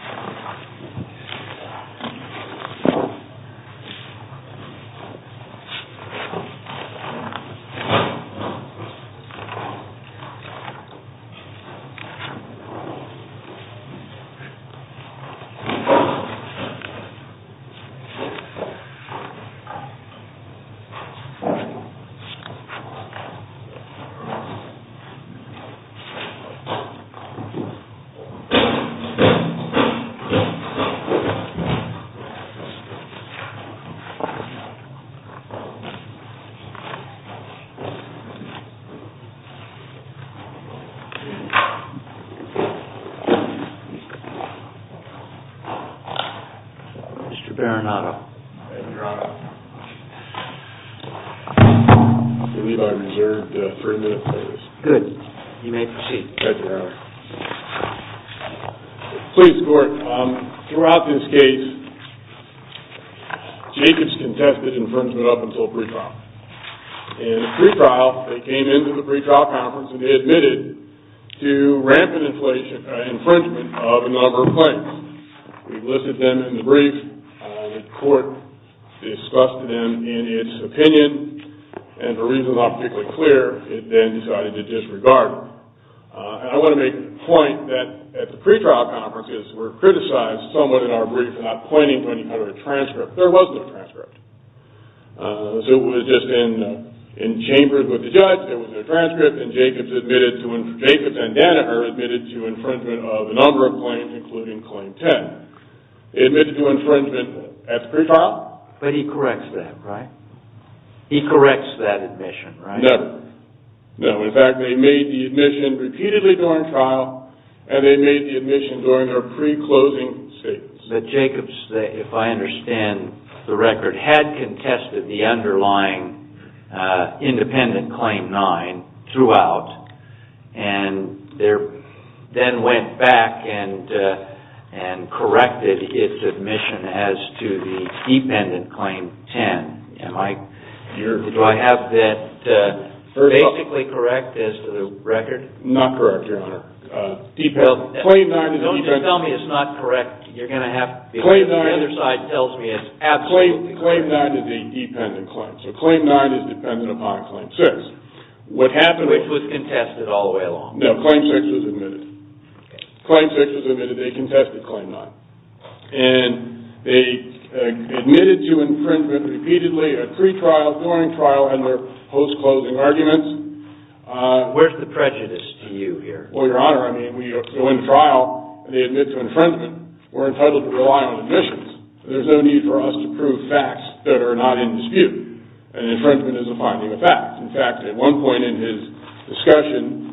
WHAT TO DO IF WINDS TAKE CARE OF YOU Mr. Berenardo. Mr. Otto. Attendee by Reserve for three minutes please. Good. You may proceed. Thank you very much. Please, Court, throughout this case, Jacobs contested infringement up until pre-trial. In the pre-trial, they came into the pre-trial conference and they admitted to rampant infringement of a number of claims. We've listed them in the brief. The court discussed them in its opinion. And for reasons not particularly clear, it then decided to disregard them. And I want to make the point that at the pre-trial conferences were criticized somewhat in our brief for not pointing to any kind of a transcript. There was no transcript. So it was just in chambers with the judge. There was no transcript. And Jacobs and Danaher admitted to infringement of a number of claims, including Claim 10. They admitted to infringement at the pre-trial. But he corrects that, right? He corrects that admission, right? Never. No. In fact, they made the admission repeatedly during trial and they made the admission during their pre-closing statements. But Jacobs, if I understand the record, had contested the underlying independent Claim 9 throughout. And then went back and corrected its admission as to the dependent Claim 10. Do I have that basically correct as to the record? Not correct, Your Honor. Don't just tell me it's not correct. The other side tells me it's absolutely correct. Claim 9 is a dependent claim. So Claim 9 is dependent upon Claim 6. Which was contested all the way along. No. Claim 6 was admitted. Claim 6 was admitted. They contested Claim 9. And they admitted to infringement repeatedly at pre-trial, during trial, and their post-closing arguments. Where's the prejudice to you here? Well, Your Honor, I mean, when you go in trial and they admit to infringement, we're entitled to rely on admissions. There's no need for us to prove facts that are not in dispute. And infringement is a finding of fact. In fact, at one point in his discussion,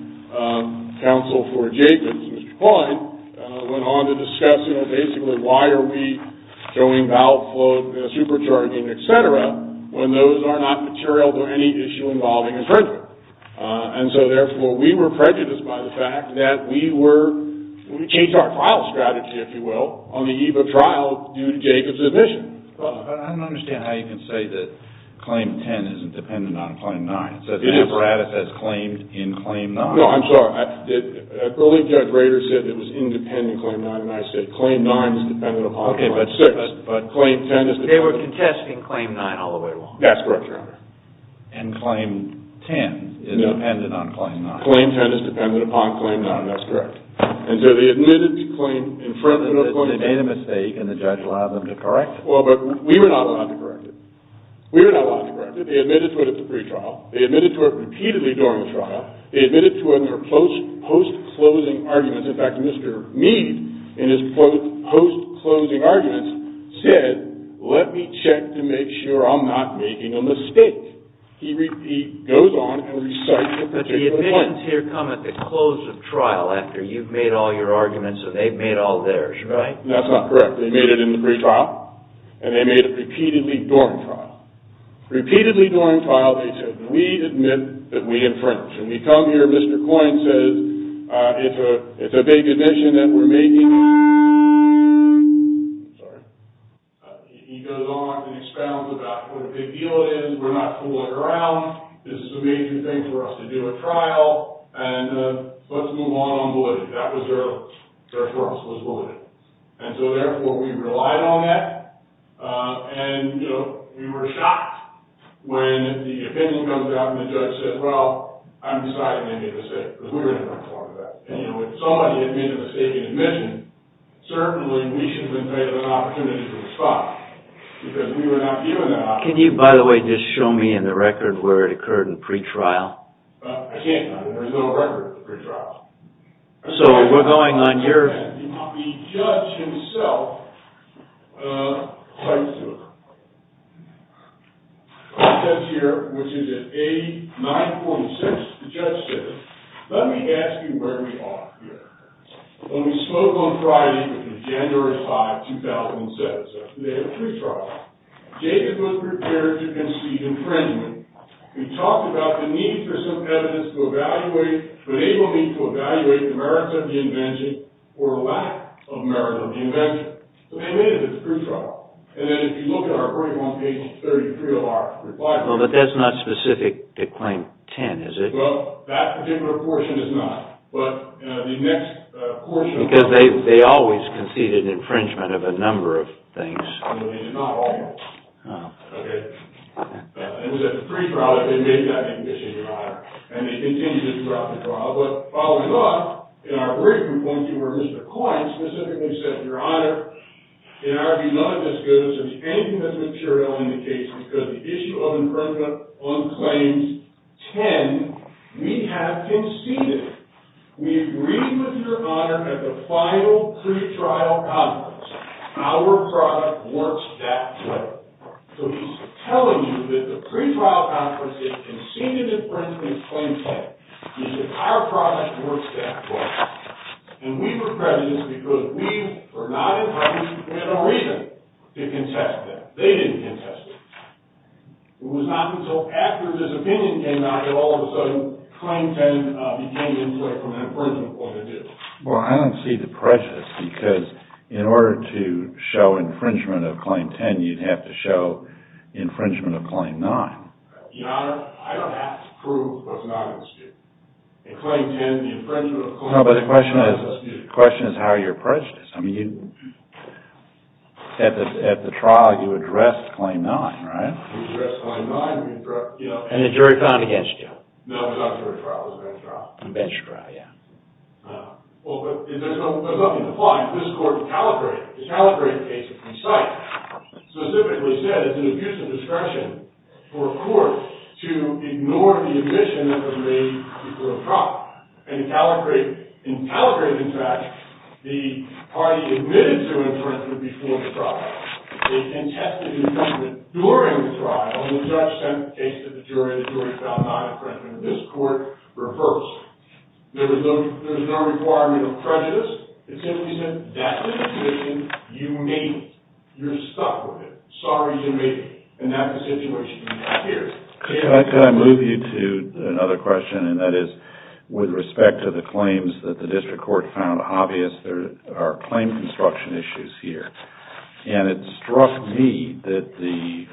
Counsel for Jacobs, Mr. Klein, went on to discuss, you know, basically why are we going out for supercharging, et cetera, when those are not material to any issue involving infringement. And so, therefore, we were prejudiced by the fact that we were, we changed our trial strategy, if you will, on the eve of trial, due to Jacobs' admission. But I don't understand how you can say that Claim 10 isn't dependent on Claim 9. It is. So the status as claimed in Claim 9. No, I'm sorry. Early Judge Rader said it was independent in Claim 9, and I said Claim 9 is dependent upon Claim 6. Okay, but they were contesting Claim 9 all the way along. That's correct, Your Honor. And Claim 10 is dependent on Claim 9. Claim 10 is dependent upon Claim 9. That's correct. And so they admitted to claim infringement. They made a mistake, and the judge allowed them to correct it. Well, but we were not allowed to correct it. We were not allowed to correct it. They admitted to it at the pre-trial. They admitted to it repeatedly during the trial. And so in their post-closing arguments, in fact, Mr. Mead, in his post-closing arguments, said, let me check to make sure I'm not making a mistake. He goes on and recites the particular point. But the admittance here come at the close of trial, after you've made all your arguments and they've made all theirs, right? That's not correct. They made it in the pre-trial, and they made it repeatedly during trial. Repeatedly during trial, they said, we admit that we infringed. When we come here, Mr. Coyne says, it's a big admission that we're making. Sorry. He goes on and expounds about what a big deal it is. We're not fooling around. This is a major thing for us to do at trial, and let's move on on validity. That was their source, was validity. And so, therefore, we relied on that. And, you know, we were shocked when the opinion comes out and the judge says, well, I'm sorry I made a mistake. Because we were informed of that. And, you know, if somebody had made a mistake in admission, certainly we should have been given an opportunity to respond. Because we were not given that opportunity. Can you, by the way, just show me in the record where it occurred in pre-trial? I can't. There's no record of pre-trial. So we're going on your... The judge himself writes to her. He says here, which is at 89.6. The judge says, let me ask you where we are here. When we spoke on Friday, January 5, 2007, after they had a pre-trial, Jacob was prepared to concede infringement. We talked about the need for some evidence to evaluate, but they will need to evaluate the merits of the invention or lack of merits of the invention. So they made it as a pre-trial. And then if you look at our 41 pages, 33 of our reply... Well, but that's not specific to Claim 10, is it? Well, that particular portion is not. But the next portion... Because they always conceded infringement of a number of things. No, they did not always. It was at the pre-trial that they made that admission, Your Honor. And they continued it throughout the trial. But following up, in our brief complaint to Mr. Coyne, specifically said, Your Honor, in our view, none of this goes to the end of this material indication because the issue of infringement on Claim 10, we have conceded. We agreed with Your Honor at the final pre-trial conference. Our product works that way. So he's telling you that the pre-trial conference, they conceded infringement of Claim 10. He said our product works that way. And we were prejudiced because we were not infringed. We had no reason to contest that. They didn't contest it. It was not until after this opinion came out that all of a sudden Claim 10 became inflicted from an infringement point of view. Well, I don't see the prejudice because in order to show infringement of Claim 10, you'd have to show infringement of Claim 9. Your Honor, I don't have to prove what's not in the statute. In Claim 10, the infringement of Claim 10 is not in the statute. No, but the question is how you're prejudiced. At the trial, you addressed Claim 9, right? We addressed Claim 9. And the jury found it against you. No, it was not a jury trial. It was a bench trial. A bench trial, yeah. Well, there's nothing to find. The Caligari case that we cite specifically said it's an abuse of discretion for a court to ignore the admission that was made before the trial. In Caligari, in fact, the party admitted to infringement before the trial. They contested infringement during the trial. And the judge sent the case to the jury. The jury found non-infringement in this court reversed. There was no requirement of prejudice. It simply said that's the situation you made it. You're stuck with it. Sorry you made it. And that's the situation you're here. Could I move you to another question? And that is with respect to the claims that the district court found obvious, there are claim construction issues here. And it struck me that the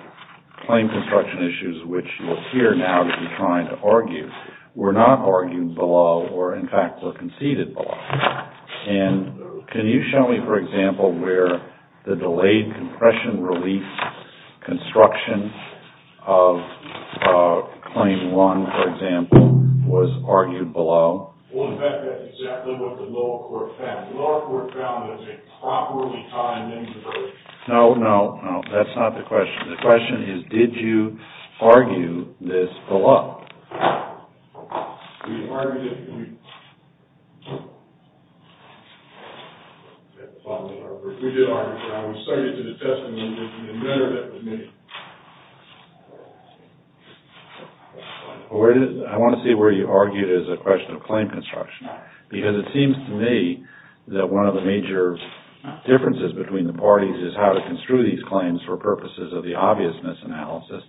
claim construction issues which you're here now to be trying to argue were not argued below or, in fact, were conceded below. And can you show me, for example, where the delayed compression relief construction of Claim 1, for example, was argued below? Well, in fact, that's exactly what the lower court found. The lower court found it was a properly timed intervention. No, no, no. That's not the question. The question is did you argue this below? We argued it. We did argue it. I was cited to the testimony that you admitted it to me. I want to see where you argue it as a question of claim construction. Because it seems to me that one of the major differences between the parties is how to construe these claims for purposes of the obviousness analysis.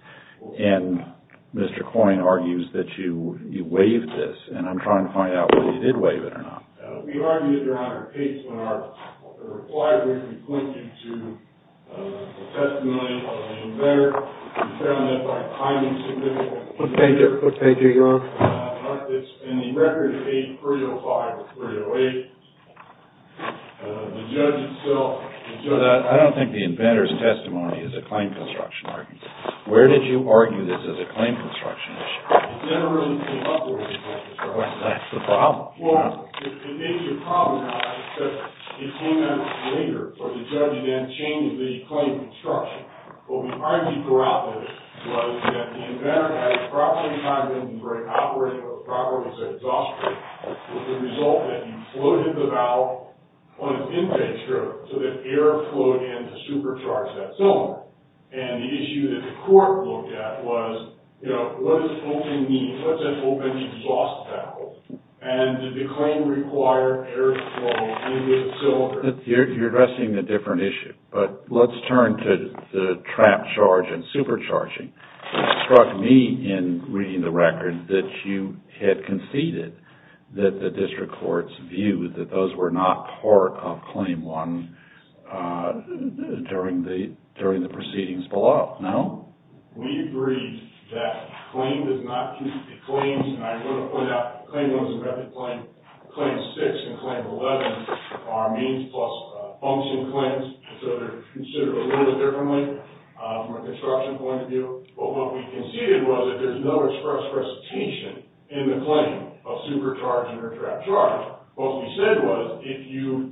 And Mr. Coyne argues that you waived this. And I'm trying to find out whether you did waive it or not. We argued it, Your Honor. It's in our reply brief. We point you to the testimony of the inventor. We found that by timing significance. What page are you on? It's in the record page 305 or 308. The judge himself. I don't think the inventor's testimony is a claim construction argument. Where did you argue this as a claim construction issue? It never really came up with a claim construction issue. Is that the problem? Well, it may be a problem, Your Honor, because it came out later. So the judge then changed the claim construction. What we argued throughout this was that the inventor had a properly timed engine brake operating at a properly set exhaust rate. With the result that he floated the valve on an intake strip so that air flowed in to supercharge that cylinder. And the issue that the court looked at was, you know, what does opening mean? What's an open exhaust valve? And did the claim require air flow into the cylinder? You're addressing a different issue. But let's turn to the trap charge and supercharging. It struck me in reading the record that you had conceded that the district court's view that those were not part of Claim 1 during the proceedings below. No? We agreed that claim does not keep the claims. And I want to point out that Claim 1 is a reputable claim. Claim 6 and Claim 11 are means plus function claims. So they're considered a little differently from a construction point of view. But what we conceded was that there's no express presentation in the claim of supercharging or trap charging. What we said was, if you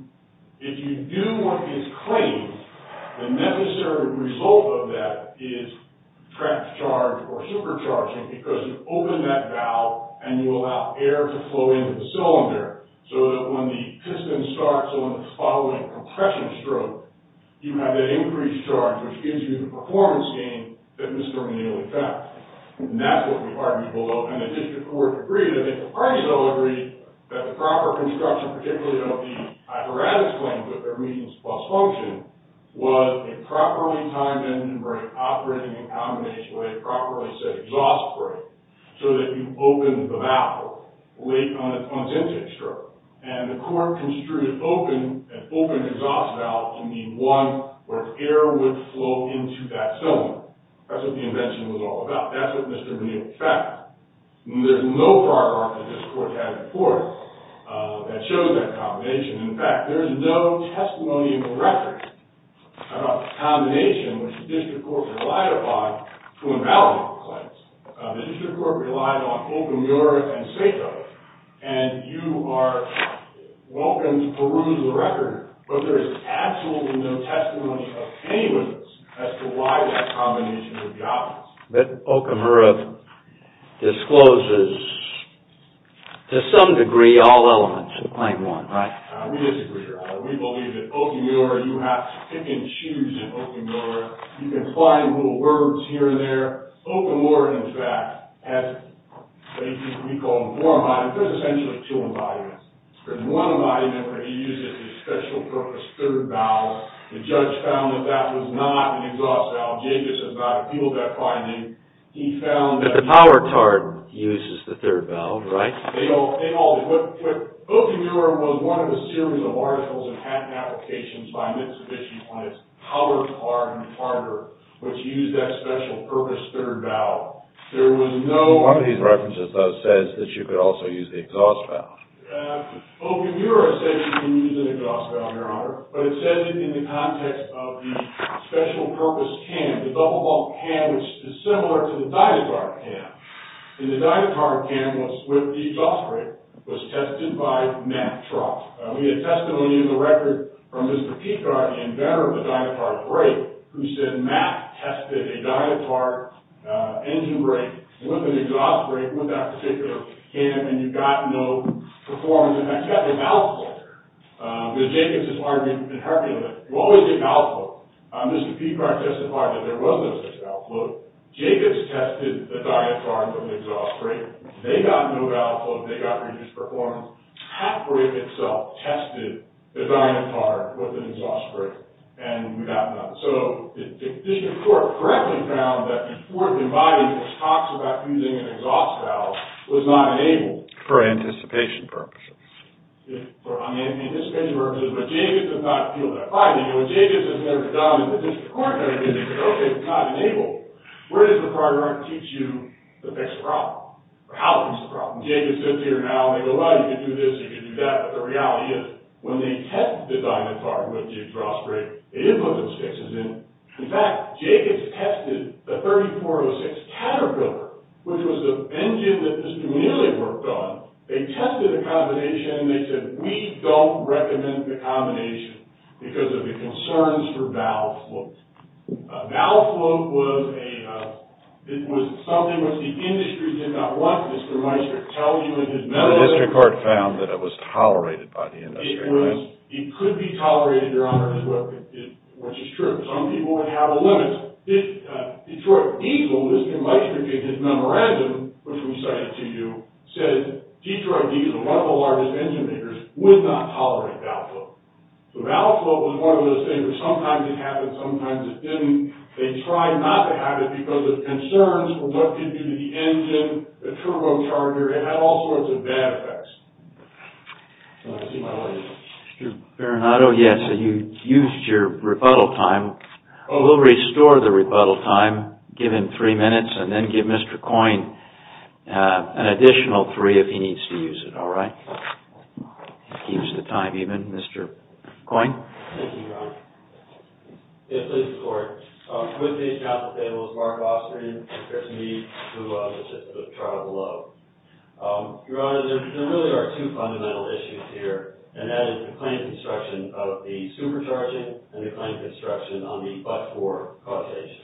do what is claimed, the necessary result of that is trap charge or supercharging because you open that valve and you allow air to flow in to the cylinder so that when the piston starts on the following compression stroke, you have that increased charge which gives you the performance gain that misdeterminable effect. And that's what we argued below. And the district court agreed, and the parties all agreed, that the proper construction, particularly of the apparatus claims with their means plus function, was a properly timed engine brake operating in combination with a properly set exhaust brake so that you open the valve late on its intake stroke. And the court construed an open exhaust valve to be one where air would flow into that cylinder. That's what the invention was all about. That's what misdeterminable effect. There's no far-arc that this court had before that shows that combination. In fact, there's no testimony in the record about the combination which the district court relied upon to invalidate the claims. The district court relied on open-door and safe-door. And you are welcome to peruse the record, but there is absolutely no testimony of any of this as to why that combination would be obvious. Okamura discloses, to some degree, all elements of Claim 1, right? We disagree, Your Honor. We believe that open-door, you have to pick and choose in open-door. You can find little words here and there. Okamura, in fact, has what we call more embodiments. There's essentially two embodiments. There's one embodiment where he uses the special purpose third valve. The judge found that that was not an exhaust valve. Jacobs has not appealed that finding. He found that the power card uses the third valve, right? They all do. But Okamura was one of a series of articles and applications by an institution on its power card and partner, which used that special purpose third valve. One of these references, though, says that you could also use the exhaust valve. Okamura says you can use an exhaust valve, Your Honor. But it says it in the context of the special purpose can. The bubble-bubble can, which is similar to the Dynapart can. The Dynapart can, with the exhaust brake, was tested by Matt Trott. We have testimony in the record from Mr. Peacock, inventor of the Dynapart brake, who said Matt tested a Dynapart engine brake with an exhaust brake with that particular can, and you got no performance. In fact, you got a mouthful. But Jacobs has argued in her appeal that you always get a mouthful. Mr. Peacock testified that there was no such mouthful. Jacobs tested the Dynapart with an exhaust brake. They got no mouthful, and they got reduced performance. Hatbrake itself tested the Dynapart with an exhaust brake, and we got none. So the district court correctly found that the court in my case talks about using an exhaust valve. It was not enabled. For anticipation purposes. For anticipation purposes. But Jacobs does not appeal that finding. What Jacobs has never done in the district court kind of business is, okay, it's not enabled. Where does the program teach you to fix a problem? Or how to fix a problem? Jacobs sits here now, and they go, well, you can do this, you can do that, but the reality is, when they test the Dynapart with the exhaust brake, they input those fixes in. In fact, Jacobs tested the 3406 Caterpillar, which was the engine that Mr. Mueller worked on. They tested a combination, and they said, we don't recommend the combination, because of the concerns for valve flow. Valve flow was something that the industry did not want. Mr. Meistert tells you in his memo. The district court found that it was tolerated by the industry. It could be tolerated, Your Honor, which is true. Some people would have a limit. Detroit Diesel, Mr. Meistert gave his memorandum, which we cited to you, says Detroit Diesel, one of the largest engine makers, would not tolerate valve flow. So, valve flow was one of those things that sometimes it happened, sometimes it didn't. They tried not to have it, because of concerns for what could do to the engine, the turbocharger. It had all sorts of bad effects. So, I see my lady. Mr. Perinato, yes, you used your rebuttal time. We'll restore the rebuttal time, give him three minutes, and then give Mr. Coyne an additional three, if he needs to use it, all right? Keeps the time even. Mr. Coyne. Thank you, Your Honor. Yes, please, Your Honor. With me at the table is Mark Austin and Chris Meade, who are listed in the chart below. Your Honor, there really are two fundamental issues here, and that is the claim construction of the supercharging and the claim construction on the but-for causation.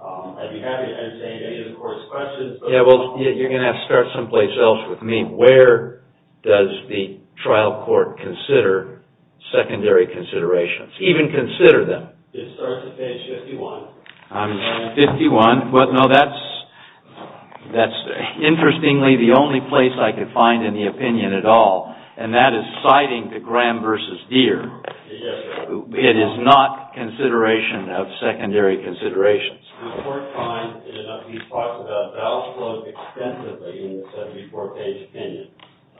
I'd be happy to answer any of the Court's questions. Yeah, well, you're going to have to start someplace else with me. Where does the trial court consider secondary considerations, even consider them? It starts at page 51. 51. Well, no, that's interestingly the only place I could find any opinion at all, and that is citing the Graham v. Deere. Yes, Your Honor. It is not consideration of secondary considerations. The Court finds in a number of these files about valve flow extensively in the 74-page opinion.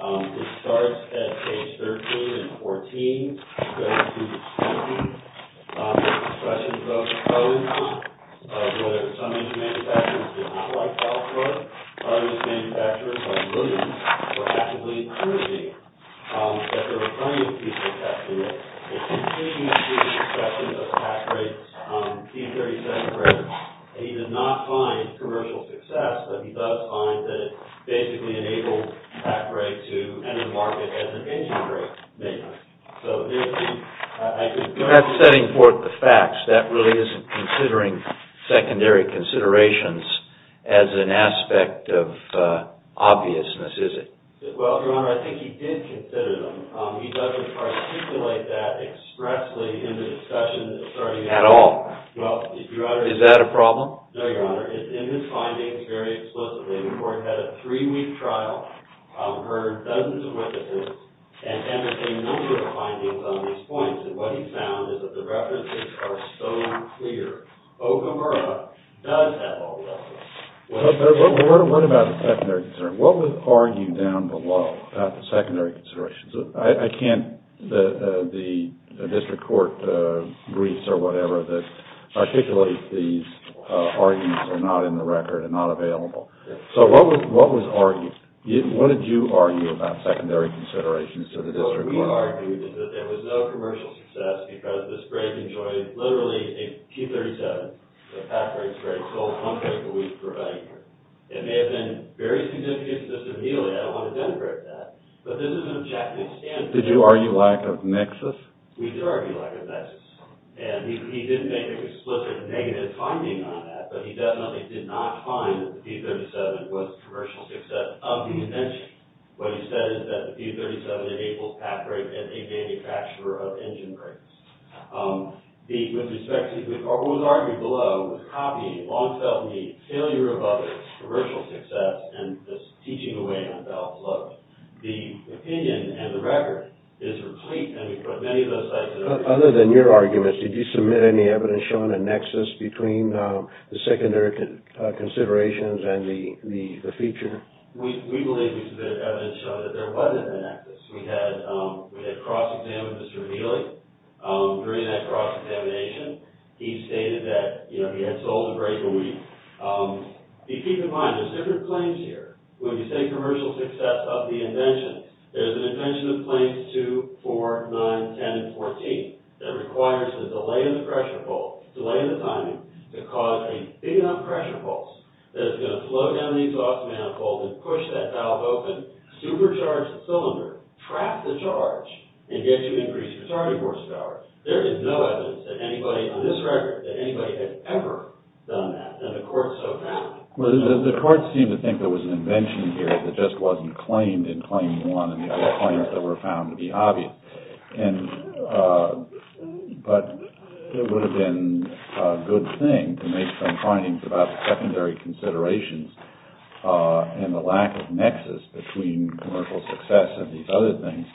It starts at page 13 and 14. It goes to 17. There are questions about codes, whether some manufacturers did not like valve flow. Other manufacturers, like Williams, were actively encouraging that there were plenty of people capturing it. It continues to be the subject of Pat Gray's T-37 records, and he did not find commercial success, but he does find that it basically enabled Pat Gray to enter the market as an engine brake manufacturer. So there's the argument. You're not setting forth the facts. That really isn't considering secondary considerations as an aspect of obviousness, is it? Well, Your Honor, I think he did consider them. He doesn't articulate that expressly in the discussion. At all? Well, Your Honor. Is that a problem? No, Your Honor. In his findings, very explicitly, the Court had a three-week trial, heard dozens of witnesses, and entertained a number of findings on these points, and what he found is that the references are so clear. Okamura does have all the evidence. What about the secondary concern? What would argue down below about the secondary considerations? I can't. The district court briefs or whatever that articulate these arguments are not in the record and not available. So what was argued? What did you argue about secondary considerations to the district court? What we argued is that there was no commercial success because this brake enjoyed literally a T-37, a Pat Gray's brake, the sole pump brake that we provide. It may have been very significant just immediately. I don't want to denigrate that. But this is an objective standpoint. Did you argue lack of nexus? We did argue lack of nexus. And he did make an explicit negative finding on that, but he definitely did not find that the T-37 was a commercial success of the extension. What he said is that the T-37 enables Pat Gray to be a manufacturer of engine brakes. With respect to what was argued below, copying, long-felt need, failure of others, commercial success, and this teaching away on felt floats. The opinion and the record is replete. And we put many of those sites in order. Other than your argument, did you submit any evidence showing a nexus between the secondary considerations and the feature? We believe we submitted evidence showing that there wasn't a nexus. We had cross-examined Mr. O'Neilly. During that cross-examination, he stated that he had sold the brake a week. Keep in mind, there's different claims here. When you say commercial success of the invention, there's an invention of claims 2, 4, 9, 10, and 14 that requires a delay in the pressure pulse, delay in the timing, to cause a big enough pressure pulse that it's going to flow down the exhaust manifold and push that valve open, supercharge the cylinder, trap the charge, and get you increased retarding horsepower. There is no evidence that anybody on this record, that anybody had ever done that. And the court so found. Well, the court seemed to think there was an invention here that just wasn't claimed in claim 1 and the other claims that were found to be obvious. But it would have been a good thing to make some findings about secondary considerations and the lack of nexus between commercial success and these other things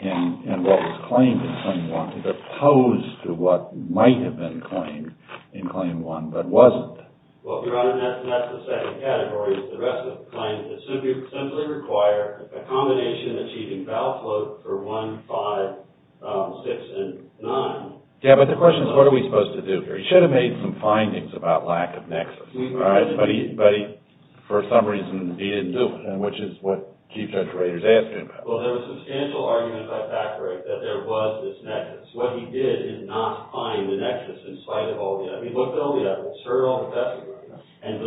and what was claimed in claim 1 as opposed to what might have been claimed in claim 1 but wasn't. Well, if you run a nexus, that's the second category. The rest of the claims simply require a combination achieving valve flow for 1, 5, 6, and 9. Yeah, but the question is, what are we supposed to do here? He should have made some findings about lack of nexus. But for some reason, he didn't do it, which is what Chief Judge Rader is asking about. Well, there was substantial argument by Fackberg that there was this nexus. What he did is not find the nexus in spite of all the evidence. Do we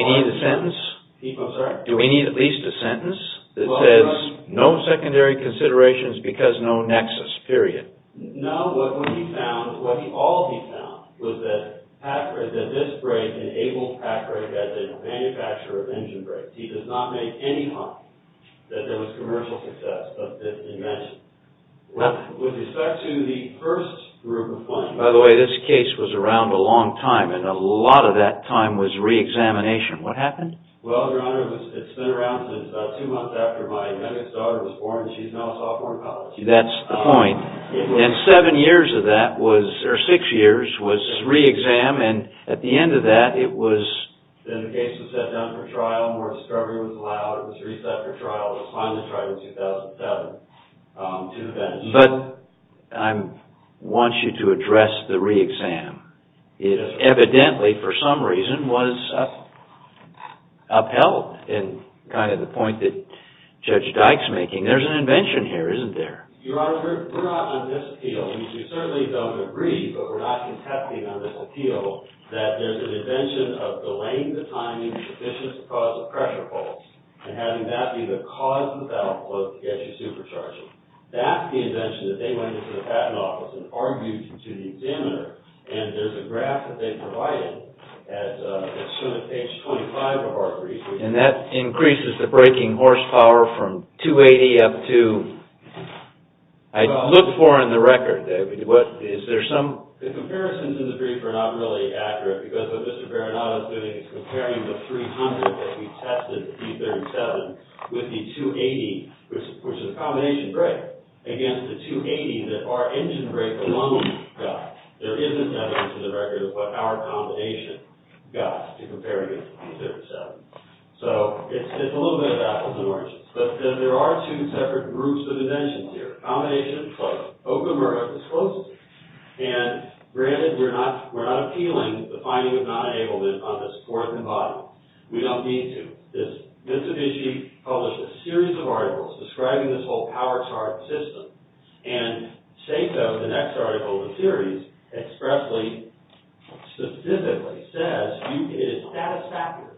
need a sentence? I'm sorry? Do we need at least a sentence that says, no secondary considerations because no nexus, period? No. What he found, what all he found was that this break enabled Fackberg as a manufacturer of engine breaks. He does not make any hope that there was commercial success of this invention. With respect to the first group of findings. By the way, this case was around a long time, and a lot of that time was re-examination. What happened? Well, Your Honor, it's been around since about two months after my youngest daughter was born, and she's now a sophomore in college. That's the point. And seven years of that was, or six years, was re-exam, and at the end of that, it was... Then the case was set down for trial. More discovery was allowed. It was reset for trial. It was finally tried in 2007 to the bench. But I want you to address the re-exam. It evidently, for some reason, was upheld in kind of the point that Judge Dyke's making. There's an invention here, isn't there? Your Honor, we're not on this appeal. We certainly don't agree, but we're not contesting on this appeal, that there's an invention of delaying the timing sufficient to cause a pressure pulse, and having that be the cause of the downflow to get you supercharged. That's the invention that they went into the Patent Office and argued to the examiner, and there's a graph that they provided at page 25 of our brief. And that increases the braking horsepower from 280 up to... I look for in the record. Is there some... The comparisons in the brief are not really accurate because what Mr. Baranato is doing is comparing the 300 that we tested, the D37, with the 280, which is a combination brake, against the 280 that our engine brake alone got. There isn't evidence in the record of what our combination got to compare against the D37. So it's a little bit of apples and oranges. But there are two separate groups of inventions here. Combination is close. Okamura is closest. And granted, we're not appealing the finding of non-enablement on this fourth and bottom. But there's no need to. Mitsubishi published a series of articles describing this whole power chart system. And Seiko, the next article in the series, expressly, specifically says, it is satisfactory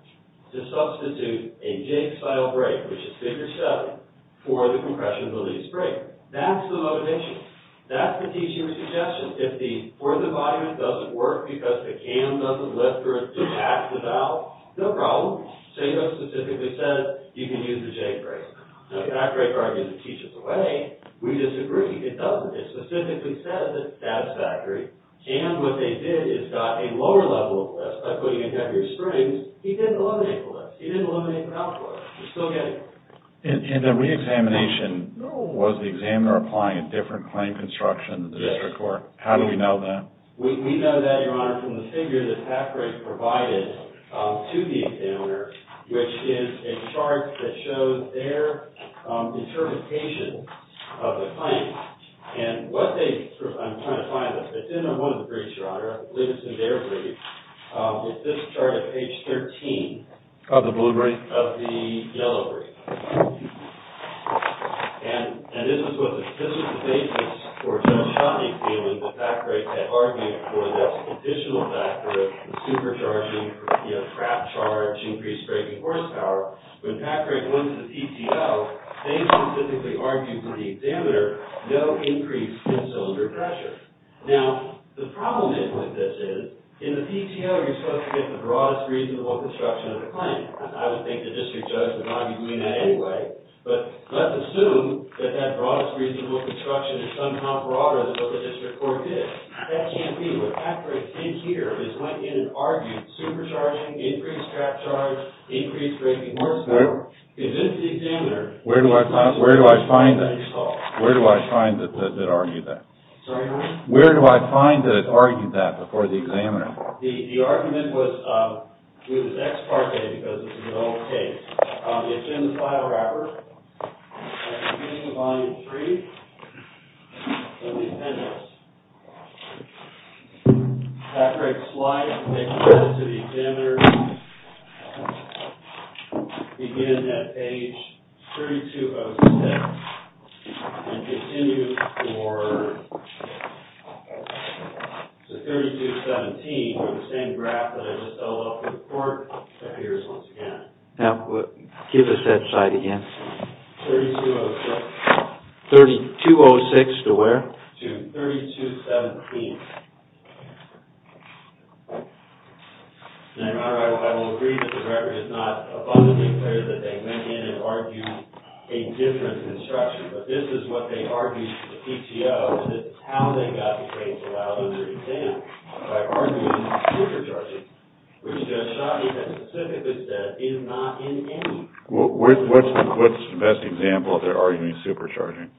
to substitute a J style brake, which is figure 7, for the compression release brake. That's the motivation. That's the teacher's suggestion. If the fourth and bottom doesn't work because the cam doesn't lift or it doesn't act without, Seiko specifically says, you can use the J brake. Now, Halfbrake argues it teaches away. We disagree. It doesn't. It specifically says it's satisfactory. And what they did is got a lower level of lifts by putting in heavier springs. He didn't eliminate the lifts. He didn't eliminate the caliper. You're still getting it. And the re-examination, was the examiner applying a different claim construction to the district court? Yes. How do we know that? We know that, Your Honor, from the figure that Halfbrake provided to the examiner. Which is a chart that shows their interpretation of the claim. And what they, I'm trying to find it. It's in one of the briefs, Your Honor. I believe it's in their brief. It's this chart at page 13. Of the blue brief? Of the yellow brief. And this is what the, this is the basis for Judge Shotley feeling that Halfbrake had argued before. That additional factor of supercharging, you know, crap charge, increased braking horsepower. When Halfbrake went to the PTO, they specifically argued for the examiner, no increase in cylinder pressure. Now, the problem with this is, in the PTO you're supposed to get the broadest reasonable construction of the claim. I would think the district judge would argue doing that anyway. But let's assume that that broadest reasonable construction is somehow broader than what the district court did. That can't be. What Halfbrake did here is went in and argued supercharging, increased crap charge, increased braking horsepower. Convinced the examiner. Where do I find that? That you saw. Where do I find that it argued that? Sorry, Your Honor? Where do I find that it argued that before the examiner? The argument was, it was ex parte because this is an old case. It's in the file wrapper. At the beginning of volume three of the appendix. Halfbrake's slide makes it to the examiner. Again, at page 3206. And continue for to 3217, where the same graph that I just filled out for the court appears once again. Give us that slide again. 3206 to where? To 3217. I will agree that the record is not abundantly clear that they went in and argued a different construction. But this is what they argued to the PTO. This is how they got the claims allowed under exam. By arguing supercharging. What's the best example of their arguing supercharging?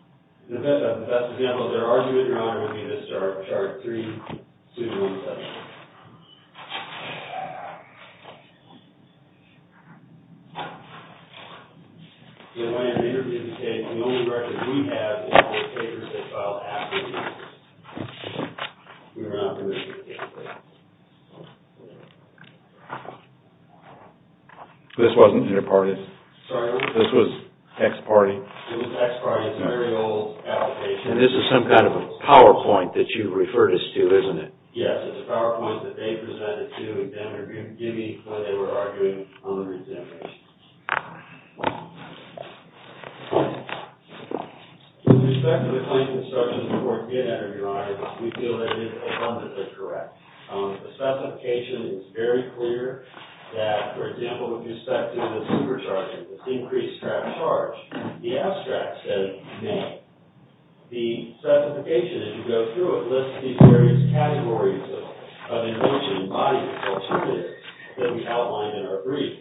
The best example of their argument, Your Honor, would be this chart 3217. The only record we have is all the papers they filed after the case. We were not permitted to take the papers. This wasn't interparted. This was ex parte. It was ex parte. It's a very old application. And this is some kind of a PowerPoint that you referred us to, isn't it? Yes. It's a PowerPoint that they presented to the examiner, giving what they were arguing on the exam. With respect to the claims instructions that weren't given under Your Honor, we feel that it is abundantly correct. The specification is very clear that, for example, with respect to the supercharging, this increased track charge, the abstract says, nay. The specification, as you go through it, lists these various categories of invention, bodies, alternatives that we outlined in our brief.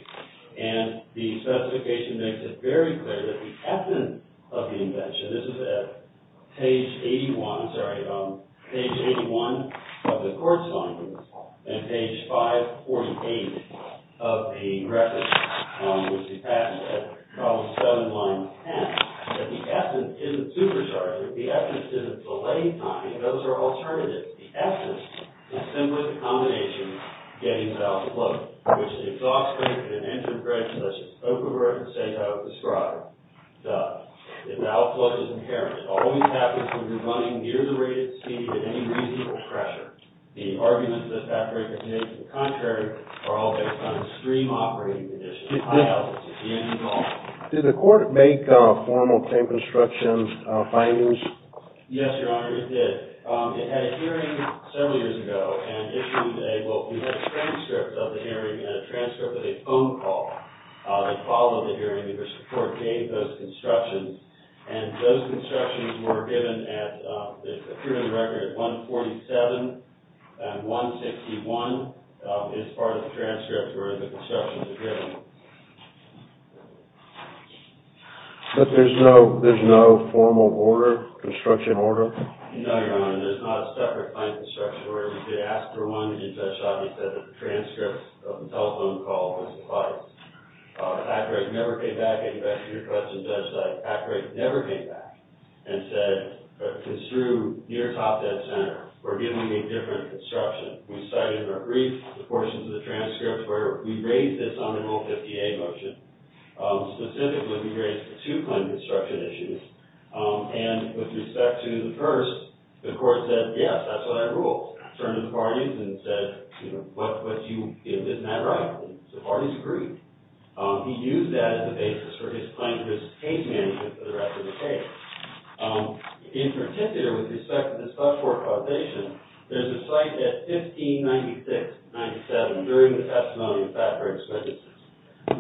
And the specification makes it very clear that the ethnon of the invention, this is at page 81, I'm sorry, page 81 of the court's findings, and page 548 of the record, which we passed at problem 7, line 10, that the ethnon isn't supercharging. The ethnon isn't delay time. Those are alternatives. The ethnon is simply the combination of getting the outflow, which the exhaustion at an engine break, such as Okubo and Sankai would describe, does. And the outflow is inherent. It always happens when you're running near the rated speed at any reasonable pressure. The arguments that that break is made to the contrary are all based on extreme operating conditions. It's the end goal. Did the court make formal claim construction findings? Yes, Your Honor, it did. It had a hearing several years ago and issued a transcript of the hearing and a transcript of a phone call. They followed the hearing and their support gave those constructions. And those constructions were given at the hearing record at 147 and 161 as part of the transcript where the constructions were given. But there's no formal order, construction order? No, Your Honor. There's not a separate claim construction order. They asked for one, and Judge Sotomay said that the transcripts of the telephone call were supplied. The fact rate never came back. I think you've answered your question, Judge Sotomay. The fact rate never came back and said, because through near top dead center, we're giving a different construction. We cited in our brief the portions of the transcript where we raised this unenrolled 50A motion. Specifically, we raised the two claim construction issues. And with respect to the first, the court said, yes, that's what I ruled. Turned to the parties and said, you know, but you didn't have it right. And the parties agreed. He used that as a basis for his claim to his case management for the rest of the case. In particular, with respect to the subcourt causation, there's a cite at 1596-97 during the testimony of fact rate expenditures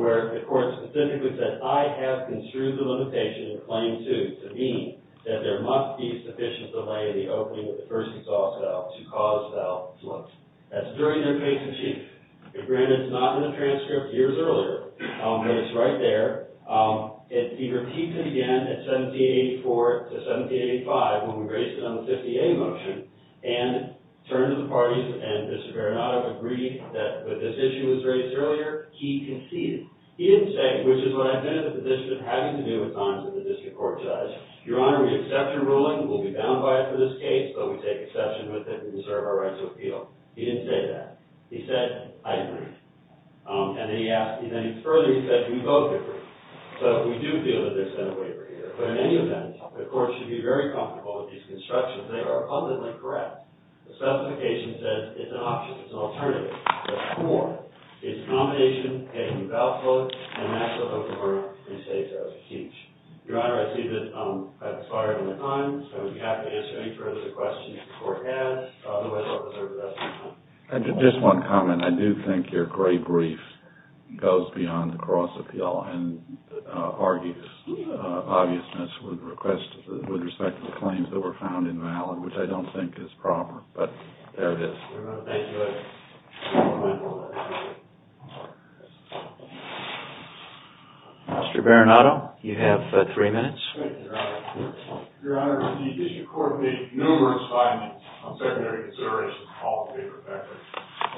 where the court specifically said, I have construed the limitation in claim two to mean that there must be sufficient delay in the opening of the first exhaust valve to cause valve to close. That's during their case of chief. Granted, it's not in the transcript years earlier. But it's right there. And he repeats it again at 1784 to 1785 when we raised it on the 50A motion. And turned to the parties. And Mr. Veronato agreed that when this issue was raised earlier, he conceded. He didn't say, which is what I've been in the position of having to do with times that the district court decides. Your Honor, we accept your ruling. We'll be bound by it for this case. But we take accession with it and serve our rights of appeal. He didn't say that. He said, I agree. And then he asked, and then further, he said, we both agree. So we do feel that there's been a waiver here. But in any event, the court should be very comfortable with these constructions. They are abundantly correct. The specification says it's an option. It's an alternative. There's more. It's a nomination. It can be valve closed. And that's what the court restates as a teach. Your Honor, I see that I've expired on my time. So I would be happy to answer any further questions the court has. Otherwise, I'll reserve the rest of my time. Just one comment. I do think your great brief goes beyond the cross appeal and argues obviousness with respect to the claims that were found invalid, which I don't think is proper. But there it is. Thank you. Mr. Baranato, you have three minutes. Thank you, Your Honor. Your Honor, the district court made numerous findings on secondary consideration of all the paper factors.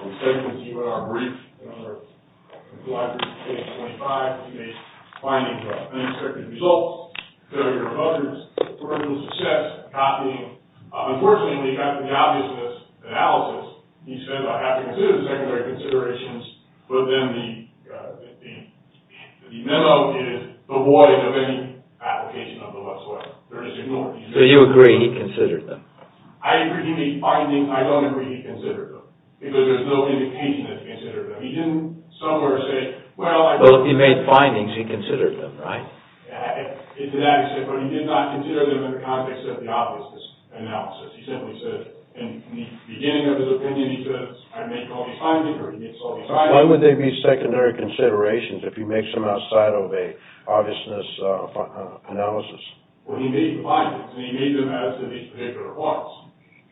We said in our brief, in our case 25, we made findings about unexpected results, failure of others, peripheral success, copying. Unfortunately, after the obviousness analysis, he said, I have to consider the secondary considerations. But then the memo is the void of any application of the left sway. They're just ignored. So you agree he considered them? I agree. He made findings. I don't agree he considered them. Because there's no indication that he considered them. He didn't somewhere say, well, I don't know. Well, he made findings. He considered them, right? To that extent. But he did not consider them in the context of the obviousness analysis. He simply said, in the beginning of his opinion, he said, I make only findings or he makes only findings. Why would there be secondary considerations if he makes them outside of a obviousness analysis? Well, he made findings. And he made them as to these particular parts.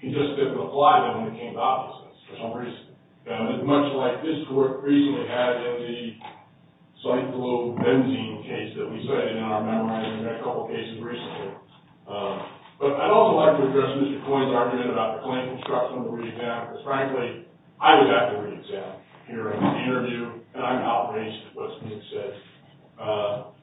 He just didn't apply them when it came to obviousness, especially recently. And it's much like this group recently had in the cyclobenzene case that we said in our memorandum and a couple cases recently. But I'd also like to address Mr. Coyne's argument about the claim construction of the re-exam. Because frankly, I was at the re-exam here in the interview. And I'm outraged at what's being said.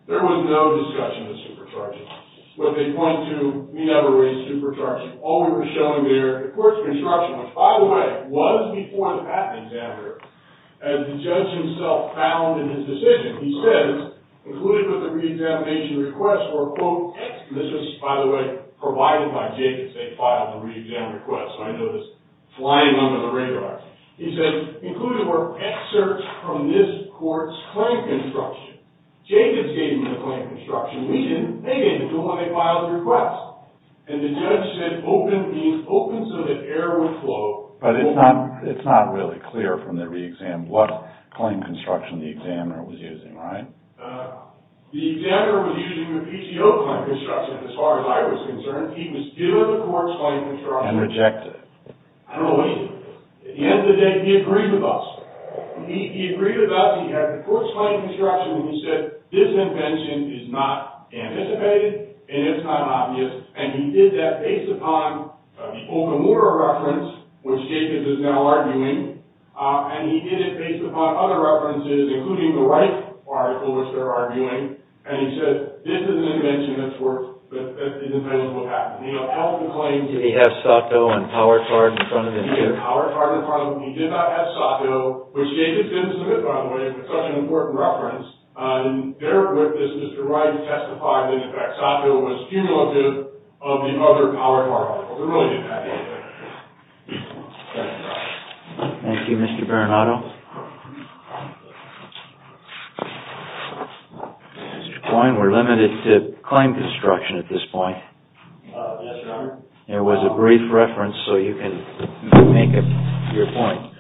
There was no discussion of supercharging. But they pointed to, we never raised supercharging. All we were showing there, the court's construction, which by the way, was before the patent examiner, as the judge himself found in his decision. He says, included with the re-examination request were, quote, this was, by the way, provided by Jacobs. They filed the re-exam request. So I know this flying under the radar. He said, included were excerpts from this court's claim construction. Jacobs gave them the claim construction. We didn't. They didn't. They filed the request. And the judge said, open means open so that air would flow. But it's not really clear from the re-exam what claim construction the examiner was using, right? The examiner was using the PTO claim construction, as far as I was concerned. He was doing the court's claim construction. And rejected it. I don't know what he did. At the end of the day, he agreed with us. He agreed with us. He had the court's claim construction. And he said, this invention is not anticipated. And it's not obvious. And he did that based upon the Okamura reference, which Jacobs is now arguing. And he did it based upon other references, including the Wright article, which they're arguing. And he said, this is an invention that's worked. But that didn't tell us what happened. We don't know the claim. Did he have Sato and Powertard in front of him, too? He did have Powertard in front of him. He did not have Sato, which Jacobs didn't submit, by the way, for such an important reference. As Mr. Wright testified, in effect, Sato was cumulative of the other Powertard articles. He really didn't have anything. Thank you. Thank you, Mr. Bernardo. Mr. Coyne, we're limited to claim construction at this point. Yes, Your Honor. There was a brief reference, so you can make up your point.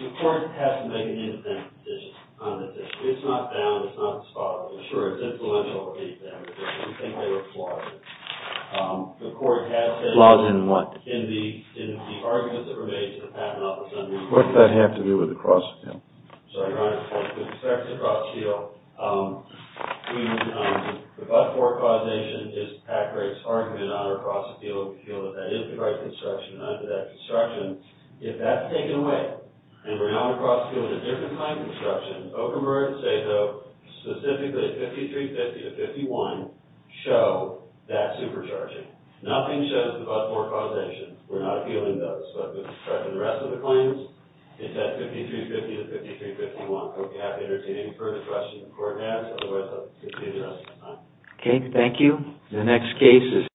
The court has to make an independent decision on this issue. It's not found. It's not spotted. Sure, it's influential. We think they were flawed. The court has said in the arguments that were made to the Patent Office on these issues. What does that have to do with the Cross Appeal? Sorry, Your Honor. With respect to the Cross Appeal, the but-for causation is Patrick's argument on our Cross Appeal. We feel that that is the right construction. If that's taken away, and we're now on the Cross Appeal with a different kind of construction, Oak and Bird, Sato, specifically 5350 to 5151, show that supercharging. Nothing shows the but-for causation. We're not appealing those. But with respect to the rest of the claims, it's at 5350 to 5351. I hope you have any further questions the court has. Otherwise, I'll continue the rest of the time. Okay. Thank you. The next case is here.